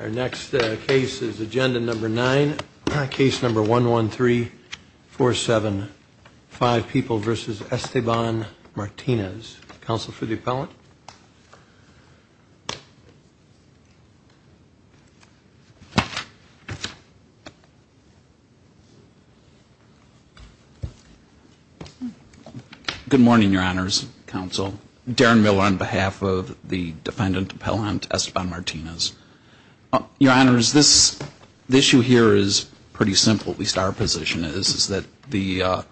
Our next case is agenda number nine, case number 113475, People v. Esteban Martinez. Counsel for the appellant. Good morning, your honors, counsel. Darren Miller on behalf of the defendant appellant, Esteban Martinez. Your honors, this issue here is pretty simple, at least our position is, is that the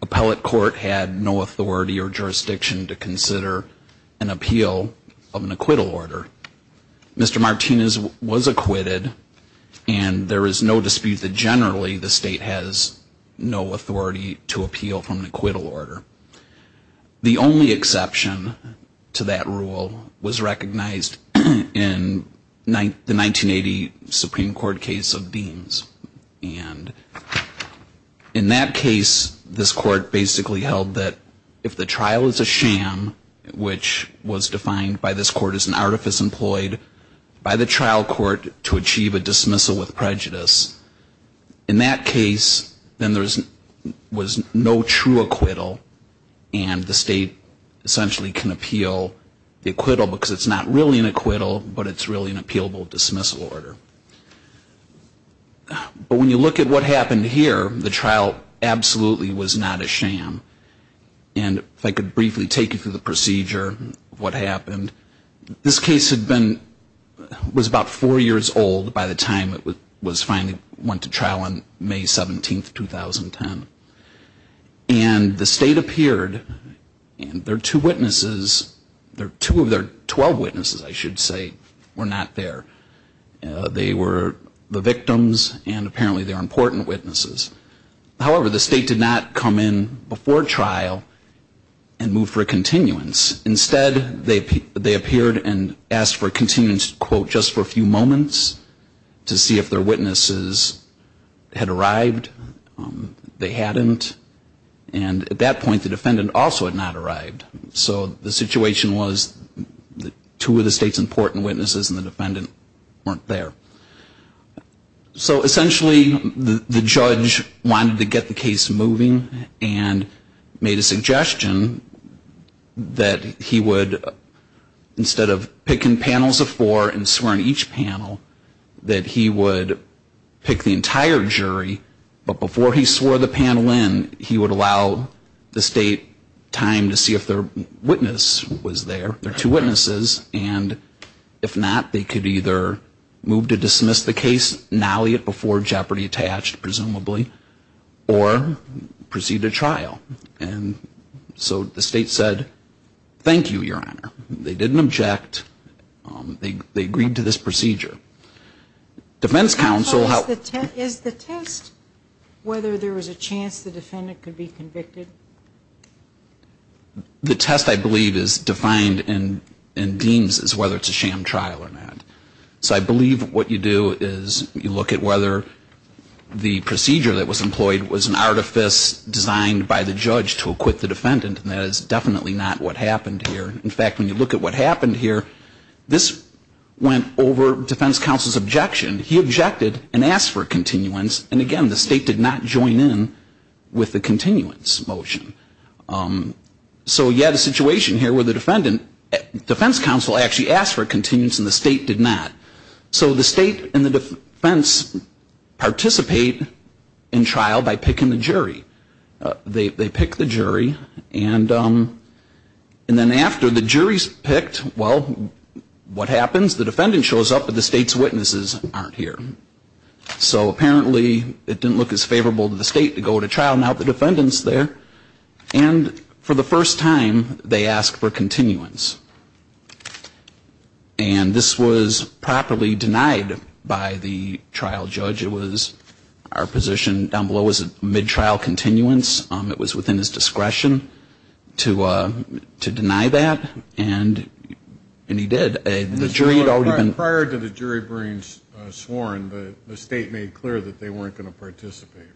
appellate court had no authority or jurisdiction to consider an appeal of an acquittal order. Mr. Martinez was acquitted, and there is no dispute that generally the state has no authority to appeal from an acquittal order. The only exception to that rule was recognized in the 1980 Supreme Court case of Deans. And in that case, this court basically held that if the trial is a sham, which was defined by this court as an artifice employed by the trial court to achieve a dismissal with prejudice, in that case, then there was no true acquittal, and the state essentially can appeal the acquittal, because it's not really an acquittal, but it's really an appealable dismissal order. But when you look at what happened here, the trial absolutely was not a sham. And if I could briefly take you through the procedure of what happened. This case was about four years old by the time it finally went to trial on May 17, 2010. And the state appeared, and their two witnesses, two of their 12 witnesses, I should say, were not there. They were the victims, and apparently they were important witnesses. However, the state did not come in before trial and move for a continuance. Instead, they appeared and asked for a continuance, quote, just for a few moments to see if their witnesses had arrived. They hadn't. And at that point, the defendant also had not arrived. So the situation was that two of the state's important witnesses and the defendant weren't there. So essentially, the judge wanted to get the case moving and made a suggestion that he would, instead of picking panels of four and swearing each panel, that he would pick the entire jury, but before he swore the panel in, he would allow the state time to see if their witness was there. And if not, they could either move to dismiss the case, nally it before jeopardy attached, presumably, or proceed to trial. And so the state said, thank you, Your Honor. They didn't object. They agreed to this procedure. Defense counsel helped. Is the test whether there was a chance the defendant could be convicted? The test, I believe, is defined and deems as whether it's a sham trial or not. So I believe what you do is you look at whether the procedure that was employed was an artifice designed by the judge to acquit the defendant, and that is definitely not what happened here. In fact, when you look at what happened here, this went over defense counsel's objection. He objected and asked for a continuance, and again, the state did not join in with the continuance motion. So you had a situation here where the defendant, defense counsel actually asked for a continuance and the state did not. So the state and the defense participate in trial by picking the jury. They pick the jury, and then after the jury's picked, well, what happens? The defendant shows up, but the state's witnesses aren't here. So apparently it didn't look as favorable to the state to go to trial. Now the defendant's there. And for the first time, they ask for continuance. And this was properly denied by the trial judge. It was our position down below was a mid-trial continuance. It was within his discretion to deny that, and he did. Prior to the jury being sworn, the state made clear that they weren't going to participate,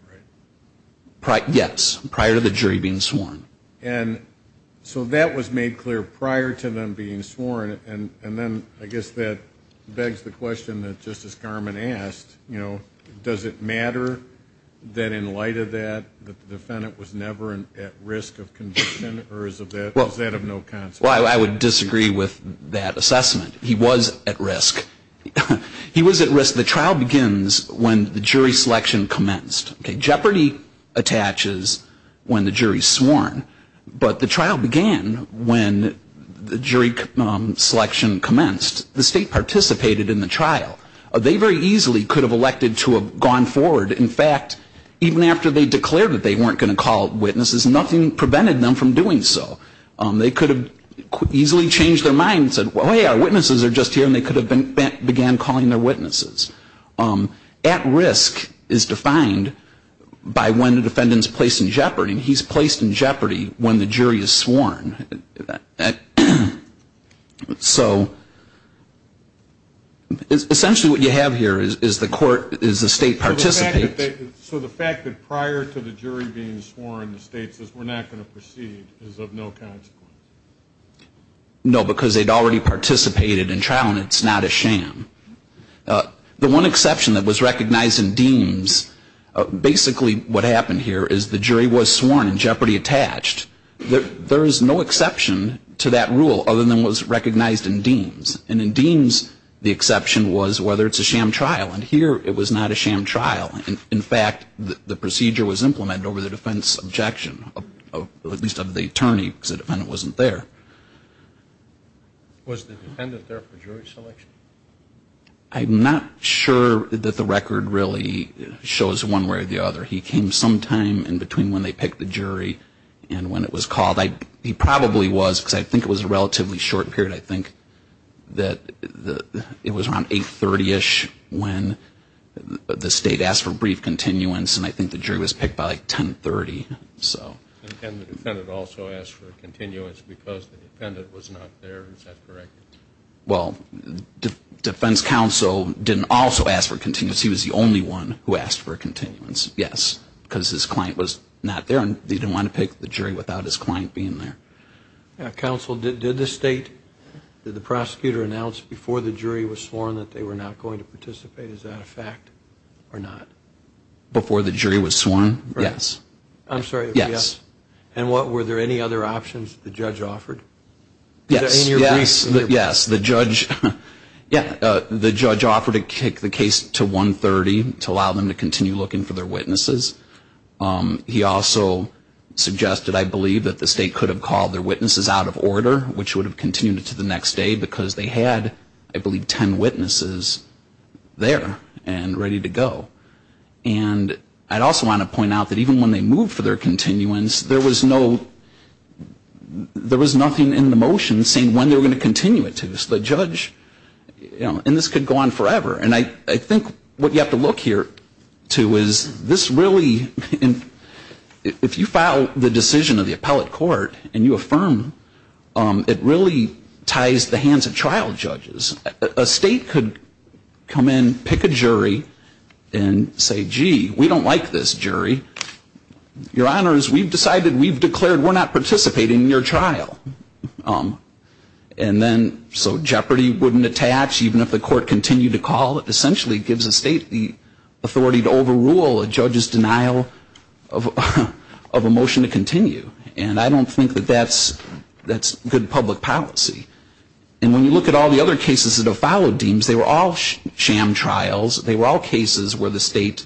right? Yes, prior to the jury being sworn. And so that was made clear prior to them being sworn, and then I guess that begs the question that Justice Garmon asked, you know, does it matter that in light of that, the defendant was never at risk of conviction, or is that of no consequence? Well, I would disagree with that assessment. He was at risk. He was at risk. The trial begins when the jury selection commenced. The state participated in the trial. They very easily could have elected to have gone forward. In fact, even after they declared that they weren't going to call witnesses, nothing prevented them from doing so. They could have easily changed their mind and said, well, hey, our witnesses are just here, and they could have began calling their witnesses. At risk is defined by when the defendant is placed in jeopardy, and he's placed in jeopardy when the jury is sworn. So essentially what you have here is the state participates. So the fact that prior to the jury being sworn, the state says we're not going to proceed is of no consequence? No, because they'd already participated in trial, and it's not a sham. The one exception that was recognized in Deems, basically what happened here is the jury was sworn and jeopardy attached. There is no exception to that rule other than what was recognized in Deems. And in Deems, the exception was whether it's a sham trial. And here it was not a sham trial. In fact, the procedure was implemented over the defense objection, at least of the attorney, because the defendant wasn't there. Was the defendant there for jury selection? I'm not sure that the record really shows one way or the other. He came sometime in between when they picked the jury and when it was called. He probably was, because I think it was a relatively short period. I think that it was around 830ish when the state asked for brief continuance, and I think the jury was picked by like 1030. And the defendant also asked for continuance because the defendant was not there, is that correct? Well, defense counsel didn't also ask for continuance. He was the only one who asked for continuance, yes, because his client was not there and he didn't want to pick the jury without his client being there. Counsel, did the state, did the prosecutor announce before the jury was sworn that they were not going to participate? Is that a fact or not? Before the jury was sworn, yes. I'm sorry, yes. And were there any other options that the judge offered? Yes, the judge offered to kick the case to 130 to allow them to continue looking for their witnesses. He also suggested, I believe, that the state could have called their witnesses out of order, which would have continued to the next day because they had, I believe, 10 witnesses there and ready to go. And I'd also want to point out that even when they moved for their continuance, there was no, there was nothing in the motion saying when they were going to continue it to. So the judge, you know, and this could go on forever. And I think what you have to look here to is this really, if you file the decision of the appellate court and you affirm, it really ties the hands of trial judges. A state could come in, pick a jury, and say, gee, we don't like this jury. Your honors, we've decided, we've declared we're not participating in your trial. And then so jeopardy wouldn't attach even if the court continued to call. It essentially gives a state the authority to overrule a judge's denial of a motion to continue. And I don't think that that's good public policy. And when you look at all the other cases that have followed Deems, they were all sham trials. They were all cases where the state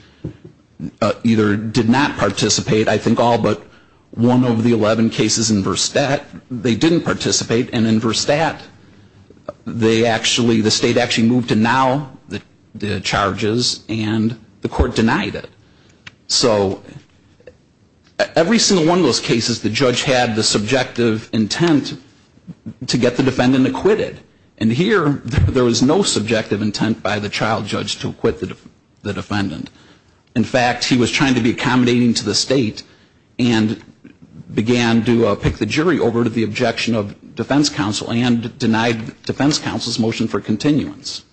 either did not participate. I think all but one of the 11 cases in Verstappen, they didn't participate. And in Verstappen, they actually, the state actually moved to now the charges and the court denied it. So every single one of those cases, the judge had the subjective intent to get the decision. The defendant acquitted. And here, there was no subjective intent by the child judge to acquit the defendant. In fact, he was trying to be accommodating to the state and began to pick the jury over to the objection of defense counsel and denied defense counsel's motion for continuance.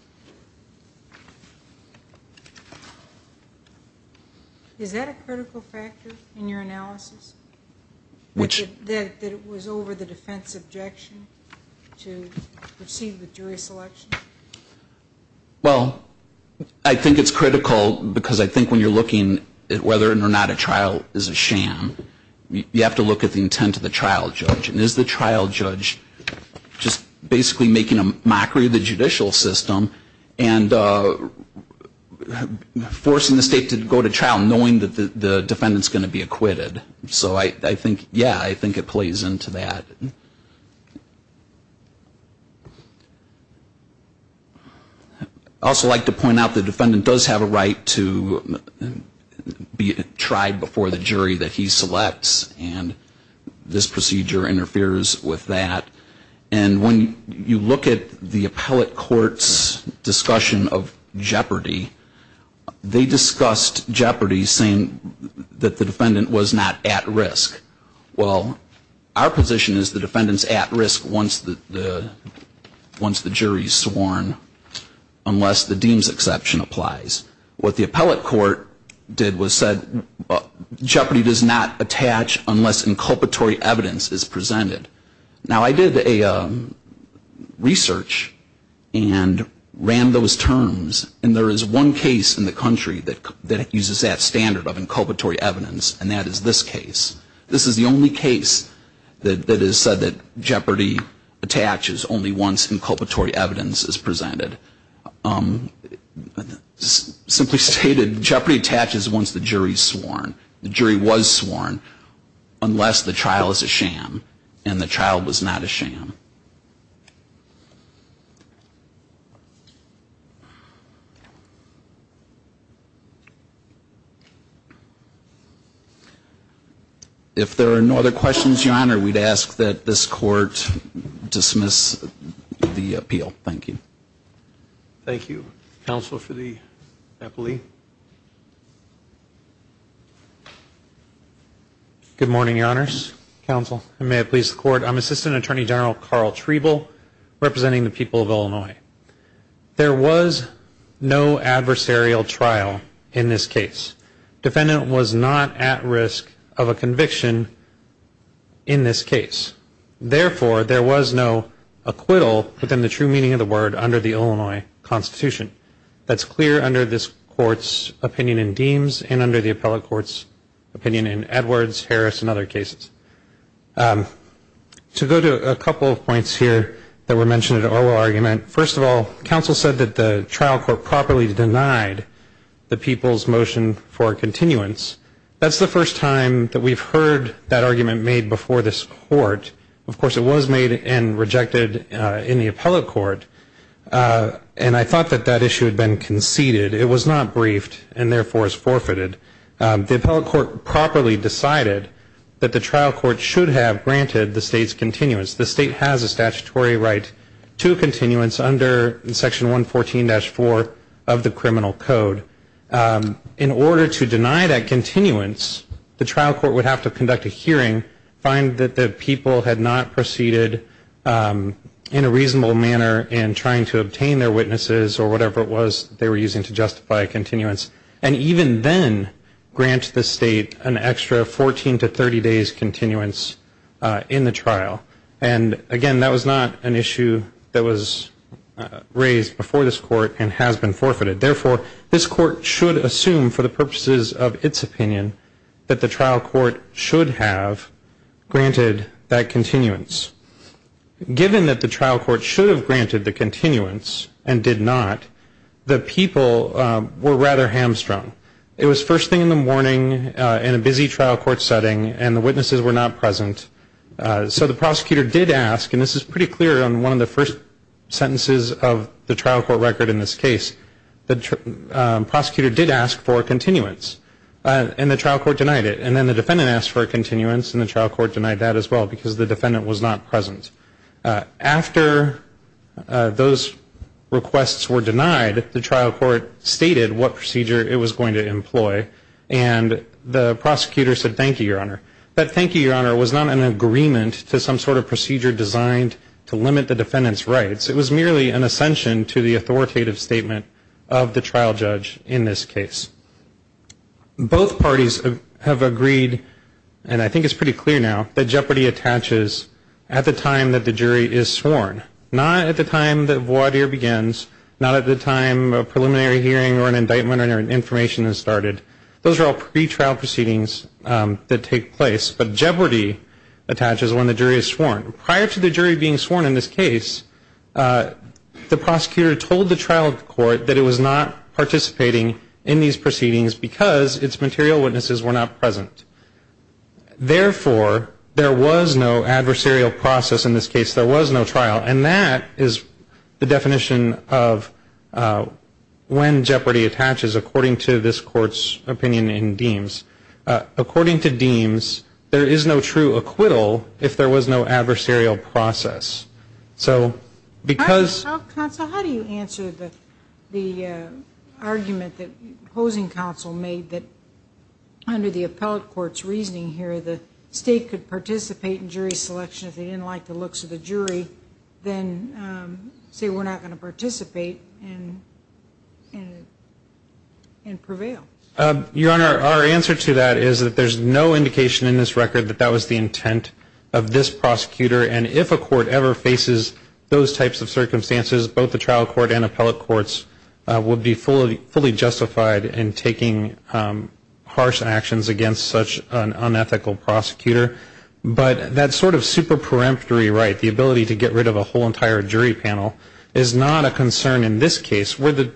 Is that a critical factor in your analysis? That it was over the defense objection to proceed with jury selection? Well, I think it's critical because I think when you're looking at whether or not a trial is a sham, you have to look at the intent of the trial judge. And is the trial judge just basically making a mockery of the judicial system and forcing the state to go to trial, knowing that the defendant's going to be acquitted? So I think, yeah, I think it plays into that. I'd also like to point out the defendant does have a right to be tried before the jury that he selects. And this procedure interferes with that. And when you look at the appellate court's discussion of jeopardy, they discussed jeopardy saying that the defendant was not at risk. Well, our position is the defendant's at risk once the jury's sworn, unless the deems exception applies. What the appellate court did was said jeopardy does not attach unless inculpatory evidence is presented. Now, I did a research and ran those terms. And there is one case in the country that uses that standard of inculpatory evidence, and that is this case. This is the only case that has said that jeopardy attaches only once inculpatory evidence is presented. It's simply stated jeopardy attaches once the jury's sworn. The jury was sworn unless the trial is a sham, and the trial was not a sham. If there are no other questions, Your Honor, we'd ask that this Court dismiss the appeal. Thank you. Thank you. Counsel for the appellee. Good morning, Your Honors, Counsel, and may it please the Court. I'm Assistant Attorney General Carl Treble representing the people of Illinois. There was no adversarial trial in this case. Defendant was not at risk of a conviction in this case. Therefore, there was no acquittal within the true meaning of the word under the Illinois Constitution. That's clear under this Court's opinion in Deems and under the appellate court's opinion in Edwards, Harris, and other cases. To go to a couple of points here that were mentioned in the oral argument, first of all, counsel said that the trial court properly denied the people's motion for continuance. That's the first time that we've heard that argument made before this Court. Of course, it was made and rejected in the appellate court, and I thought that that issue had been conceded. It was not briefed and, therefore, is forfeited. The appellate court properly decided that the trial court should have granted the state's continuance. The state has a statutory right to a continuance under Section 114-4 of the Criminal Code. In order to deny that continuance, the trial court would have to conduct a hearing, find that the people had not proceeded in a reasonable manner in trying to obtain their witnesses or whatever it was they were using to justify a continuance, and even then grant the trial. And, again, that was not an issue that was raised before this Court and has been forfeited. Therefore, this Court should assume for the purposes of its opinion that the trial court should have granted that continuance. Given that the trial court should have granted the continuance and did not, the people were rather hamstrung. It was first thing in the morning in a busy trial court setting, and the witnesses were not present. So the prosecutor did ask, and this is pretty clear on one of the first sentences of the trial court record in this case, the prosecutor did ask for a continuance, and the trial court denied it. And then the defendant asked for a continuance, and the trial court denied that as well because the defendant was not present. After those requests were denied, the trial court stated what procedure it was going to employ, and the prosecutor said thank you, Your Honor. But thank you, Your Honor, was not an agreement to some sort of procedure designed to limit the defendant's rights. It was merely an ascension to the authoritative statement of the trial judge in this case. Both parties have agreed, and I think it's pretty clear now, that jeopardy attaches at the time that the jury is sworn. Not at the time the voir dire begins, not at the time a preliminary hearing or an indictment or information is started. Those are all pretrial proceedings that take place, but jeopardy attaches when the jury is sworn. Prior to the jury being sworn in this case, the prosecutor told the trial court that it was not participating in these proceedings. Because its material witnesses were not present. Therefore, there was no adversarial process in this case. There was no trial, and that is the definition of when jeopardy attaches, according to this court's opinion in Deems. According to Deems, there is no true acquittal if there was no adversarial process. How do you answer the argument that opposing counsel made that under the appellate court's reasoning here, the state could participate in jury selection if they didn't like the looks of the jury, then say we're not going to participate and prevail? Your Honor, our answer to that is that there's no indication in this record that that was the intent of this prosecutor. And if a court ever faces those types of circumstances, both the trial court and appellate courts would be fully justified in taking harsh actions against such an unethical prosecutor. But that sort of super peremptory right, the ability to get rid of a whole entire jury panel, is not a concern in this case. Where the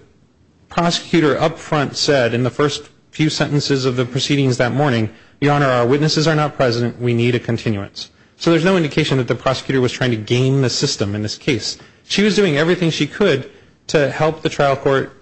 prosecutor up front said in the first few sentences of the proceedings that morning, Your Honor, our witnesses are not present, we need a continuance. So there's no indication that the prosecutor was trying to game the system in this case. She was doing everything she could to help the trial court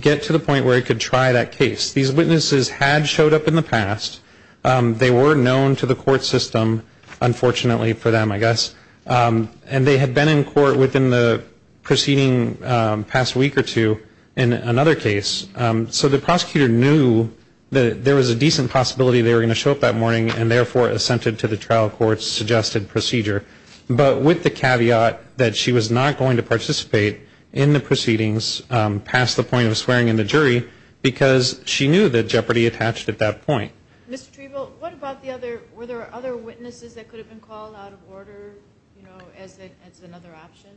get to the point where it could try that case. These witnesses had showed up in the past. They were known to the court system, unfortunately for them, I guess. And they had been in court within the preceding past week or two in another case. So the prosecutor knew that there was a decent possibility they were going to show up that morning, and therefore assented to the trial court's suggested procedure. But with the caveat that she was not going to participate in the proceedings past the point of swearing in the jury, because she knew that jeopardy attached at that point. Ms. Trevill, what about the other, were there other witnesses that could have been called out of order, you know, as another option?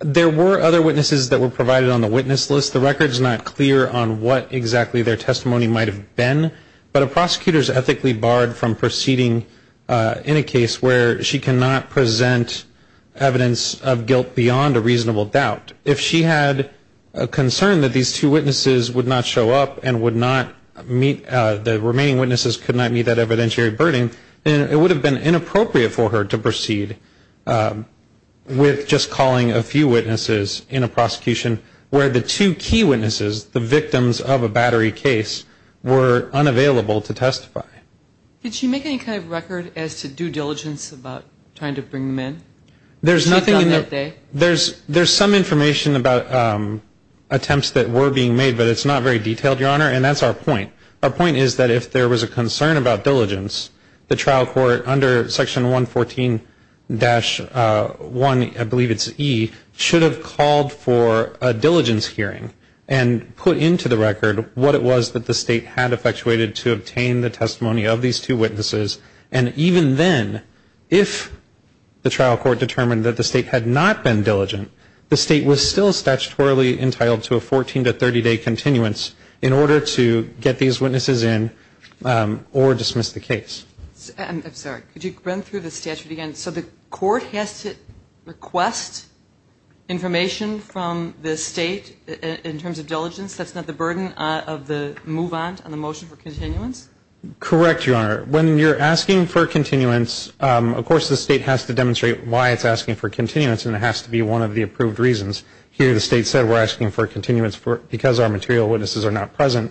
There were other witnesses that were provided on the witness list. The record is not clear on what exactly their testimony might have been, but a prosecutor is ethically barred from proceeding in a case where she cannot present evidence of guilt beyond a reasonable doubt. If she had a concern that these two witnesses would not show up and would not meet, the remaining witnesses could not meet that evidentiary burden, and it would have been inappropriate for her to proceed with just calling a few witnesses in a prosecution where the two key witnesses, the victims of a battery case, were unavailable to testify. Did she make any kind of record as to due diligence about trying to bring them in? There's some information about attempts that were being made, but it's not very detailed, Your Honor, and that's our point. Our point is that if there was a concern about diligence, the trial court under Section 114-1, I believe it's E, should have called for a diligence hearing and put into the record what it was that the State had effectuated to obtain the testimony of these two witnesses, and even then, if the trial court determined that the State had not been diligent, the State was still statutorily entitled to a 14 to 30-day continuance in order to get these witnesses in or dismiss the case. I'm sorry. Could you run through the statute again? So the court has to request information from the State in terms of diligence. That's not the burden of the move-on on the motion for continuance? Correct, Your Honor. When you're asking for continuance, of course the State has to demonstrate why it's asking for continuance, and it has to be one of the approved reasons. Here the State said we're asking for continuance because our material witnesses are not present,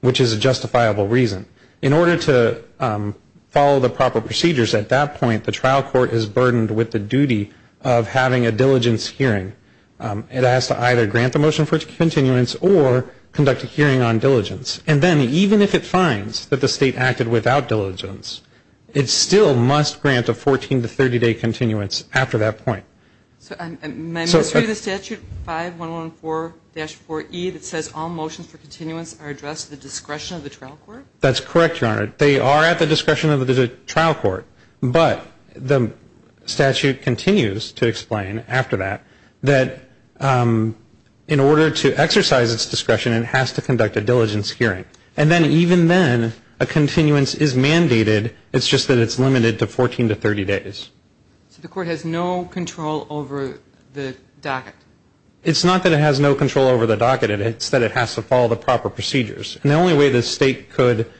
which is a justifiable reason. In order to follow the proper procedures at that point, the trial court is burdened with the duty of having a diligence hearing. It has to either grant the motion for continuance or conduct a hearing on diligence. And then even if it finds that the State acted without diligence, it still must grant a 14 to 30-day continuance after that point. So am I misreading the statute 5114-4E that says all motions for continuance are addressed at the discretion of the trial court? That's correct, Your Honor. They are at the discretion of the trial court, but the statute continues to explain after that that in order to exercise its discretion, it has to conduct a diligence hearing. And then even then, a continuance is mandated. It's just that it's limited to 14 to 30 days. So the court has no control over the docket? It's not that it has no control over the docket. It's that it has to follow the proper procedures. And the only way the State could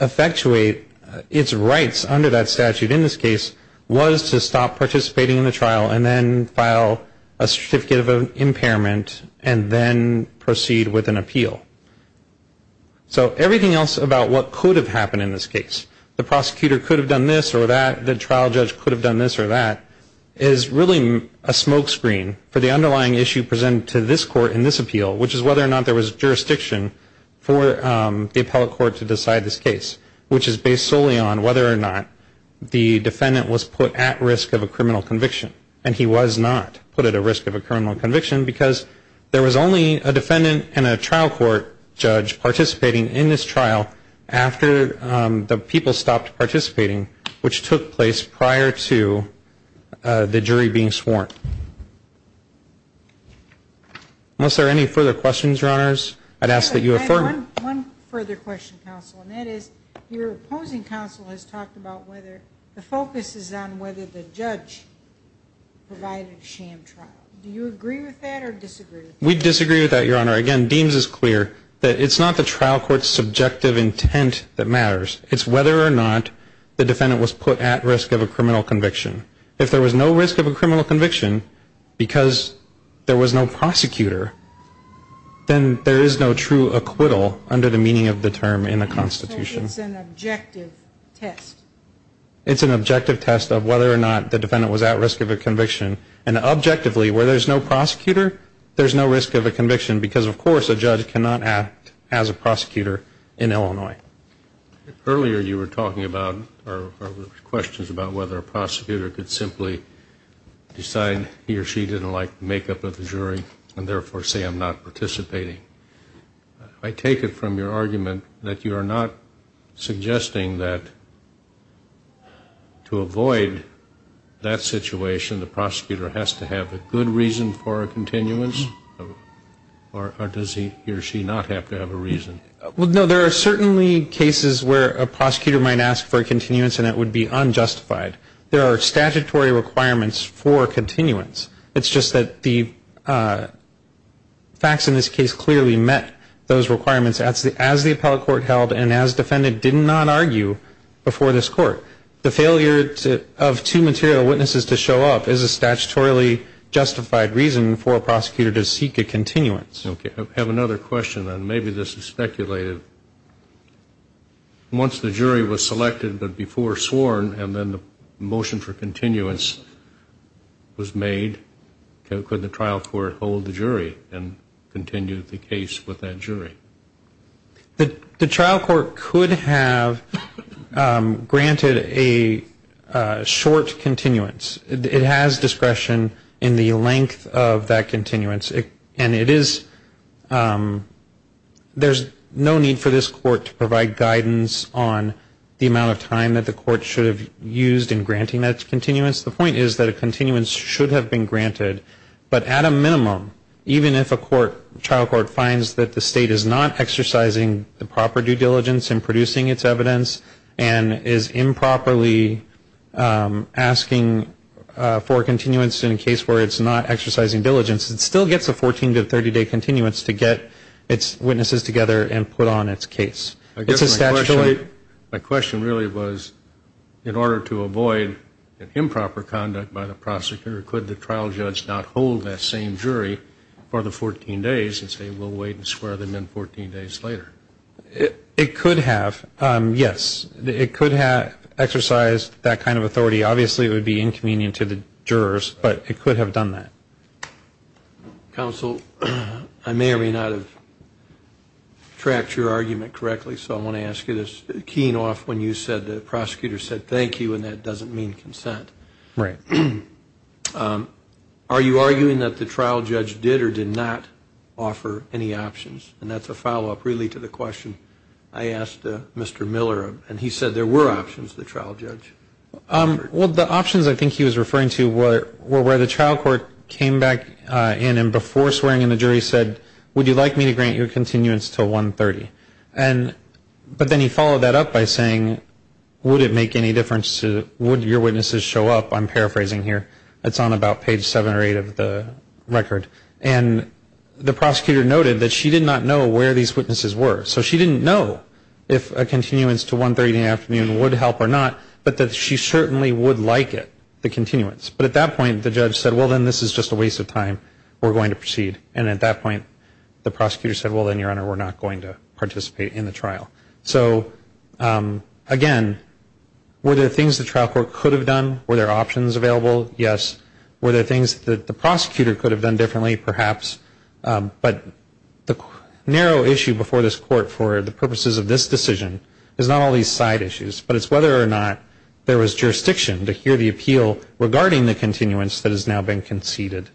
effectuate its rights under that statute in this case was to stop participating in the trial and then file a certificate of impairment and then proceed with an appeal. So everything else about what could have happened in this case, the prosecutor could have done this or that, the trial judge could have done this or that, is really a smoke screen for the underlying issue presented to this court in this appeal, which is whether or not there was jurisdiction for the appellate court to decide this case, which is based solely on whether or not the defendant was put at risk of a criminal conviction. And he was not put at a risk of a criminal conviction because there was only a defendant and a trial court judge participating in this trial after the people stopped participating, which took place prior to the jury being sworn. Unless there are any further questions, Your Honors, I'd ask that you affirm. One further question, counsel, and that is, your opposing counsel has talked about whether the focus is on whether the judge provided sham trial. Do you agree with that or disagree with that? We disagree with that, Your Honor. Again, Deems is clear that it's not the trial court's subjective intent that matters. It's whether or not the defendant was put at risk of a criminal conviction. If there was no risk of a criminal conviction because there was no prosecutor, then there is no true acquittal under the meaning of the term in the Constitution. So it's an objective test? It's an objective test of whether or not the defendant was at risk of a conviction. And objectively, where there's no prosecutor, there's no risk of a conviction because, of course, a judge cannot act as a prosecutor in Illinois. Earlier you were talking about, or questions about whether a prosecutor could simply decide he or she didn't like the makeup of the jury and therefore say I'm not participating. I take it from your argument that you are not suggesting that to avoid that situation, the prosecutor has to have a good reason for a continuance? Or does he or she not have to have a reason? Well, no, there are certainly cases where a prosecutor might ask for a continuance and it would be unjustified. There are statutory requirements for continuance. It's just that the facts in this case clearly met those requirements as the appellate court held and as the defendant did not argue before this court. The failure of two material witnesses to show up is a statutorily justified reason for a prosecutor to seek a continuance. Okay. I have another question. And maybe this is speculative. Once the jury was selected but before sworn and then the motion for continuance was made, could the trial court hold the jury and continue the case with that jury? The trial court could have granted a short continuance. It has discretion in the length of that continuance. And it is a short continuance. There's no need for this court to provide guidance on the amount of time that the court should have used in granting that continuance. The point is that a continuance should have been granted. But at a minimum, even if a trial court finds that the state is not exercising the proper due diligence in producing its evidence and is improperly asking for a continuance in a case where it's not exercising due diligence, it still gets a 14 to 30-day continuance to get its witnesses together and put on its case. I guess my question really was, in order to avoid improper conduct by the prosecutor, could the trial judge not hold that same jury for the 14 days and say we'll wait and square them in 14 days later? It could have, yes. It could have exercised that kind of authority. Obviously it would be inconvenient to the jurors, but it could have done that. Counsel, I may or may not have tracked your argument correctly, so I want to ask you this. Keying off when you said the prosecutor said thank you and that doesn't mean consent. Are you arguing that the trial judge did or did not offer any options? And that's a follow-up really to the question I asked Mr. Miller, and he said there were options to the trial judge. Well, the options I think he was referring to were where the trial court came back in and before swearing in the jury said, would you like me to grant your continuance until 1.30? But then he followed that up by saying, would it make any difference to, would your witnesses show up? I'm paraphrasing here. It's on about page 7 or 8 of the record. And the prosecutor noted that she did not know where these witnesses were. So she didn't know if a continuance to 1.30 in the afternoon would help or not, but that she certainly would like it, the continuance. But at that point the judge said, well, then this is just a waste of time. We're going to proceed. And at that point the prosecutor said, well, then, Your Honor, we're not going to participate in the trial. So, again, were there things the trial court could have done? Were there options available? Yes. Were there things that the prosecutor could have done differently, perhaps? But the narrow issue before this Court for the purposes of this decision is not all these side issues, but it's whether or not there was jurisdiction to hear the appeal regarding the continuance that has now been conceded.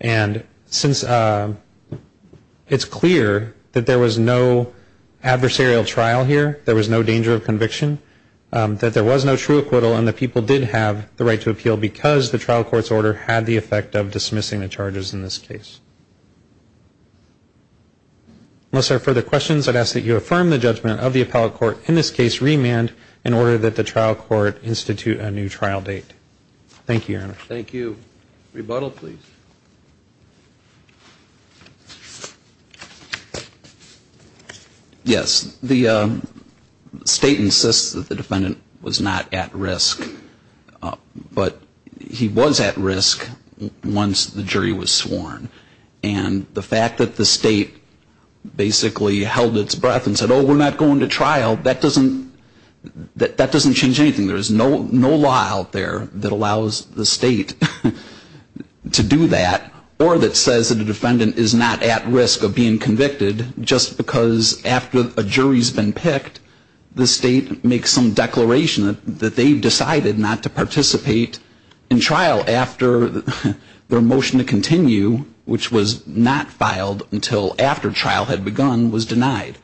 And since it's clear that there was no adversarial trial here, there was no danger of conviction, that there was no true acquittal and that people did have the right to appeal because the trial court's order had the effect of dismissing the charges in this case. Unless there are further questions, I'd ask that you affirm the judgment of the appellate court in this case, remand, in order that the trial court institute a new trial date. Thank you, Your Honor. Yes. The State insists that the defendant was not at risk. But he was at risk once the jury was sworn. And the fact that the State basically held its breath and said, oh, we're not going to trial, that doesn't change anything. There's no law out there that allows the State to do that, or that says that a defendant is not at risk of being convicted, just because after a jury's been picked, the State makes some declaration that they've decided not to participate in trial after their motion to continue, which was not filed until after trial had begun, was denied.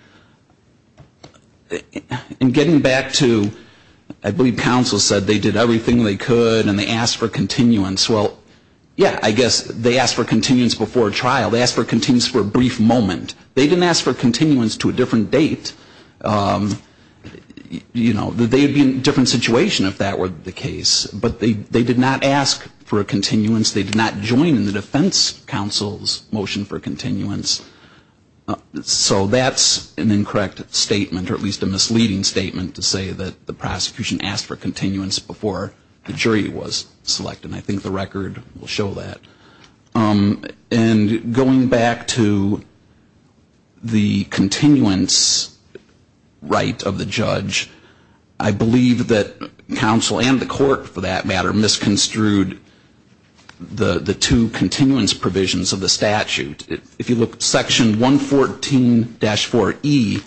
And getting back to, I believe counsel said they did everything they could and they asked for continuance. Well, yeah, I guess they asked for continuance before trial. They asked for continuance for a brief moment. They didn't ask for continuance to a different date. You know, they'd be in a different situation if that were the case. But they did not ask for a continuance. They did not join in the process. And I think that's an incorrect statement, or at least a misleading statement to say that the prosecution asked for continuance before the jury was selected. And I think the record will show that. And going back to the continuance right of the judge, I believe that counsel and the court, for that matter, misconstrued the two continuance provisions of the statute. If you look, Section 114-4E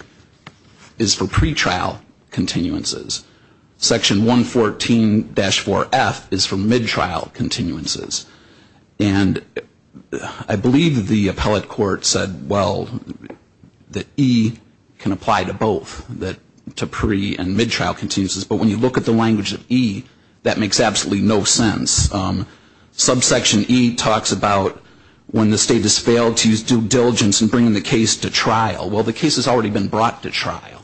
is for pretrial continuances. Section 114-4F is for midtrial continuances. And I believe the appellate court said, well, that E can apply to both, to pre- and midtrial continuances. But when you look at the language of E, that is, when the state has failed to use due diligence in bringing the case to trial, well, the case has already been brought to trial.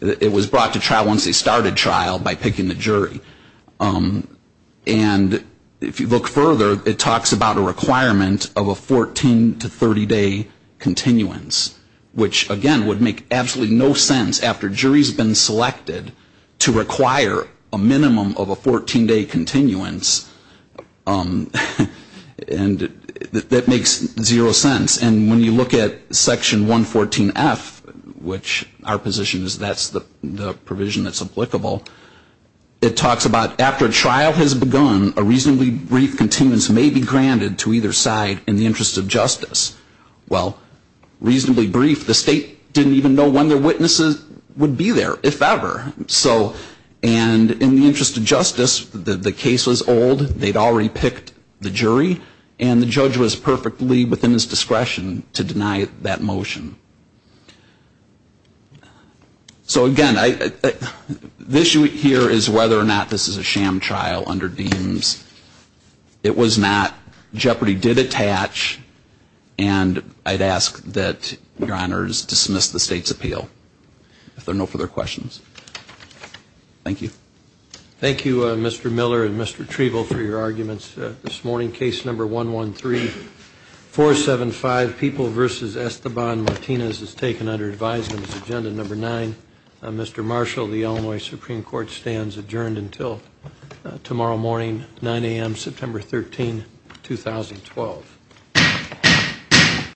It was brought to trial once they started trial by picking the jury. And if you look further, it talks about a requirement of a 14- to 30-day continuance, which, again, would make absolutely no sense after jury has been selected to require a minimum of a 14-day continuance. And I think that's an incorrect statement. And that makes zero sense. And when you look at Section 114-F, which our position is that's the provision that's applicable, it talks about after trial has begun, a reasonably brief continuance may be granted to either side in the interest of justice. Well, reasonably brief. The state didn't even know when their witnesses would be there, if ever. So, and in the interest of justice, the case was old. They'd already picked the jury. And the state didn't even know. And the judge was perfectly within his discretion to deny that motion. So, again, the issue here is whether or not this is a sham trial under Deems. It was not. Jeopardy did attach. And I'd ask that Your Honors dismiss the state's appeal. If there are no further questions. Thank you. Thank you, Mr. Miller and Mr. Trevill for your arguments this morning. Case number 113-475, People v. Esteban Martinez is taken under advisement. It's agenda number nine. Mr. Marshall, the Illinois Supreme Court stands adjourned until tomorrow morning, 9 a.m., September 13, 2012.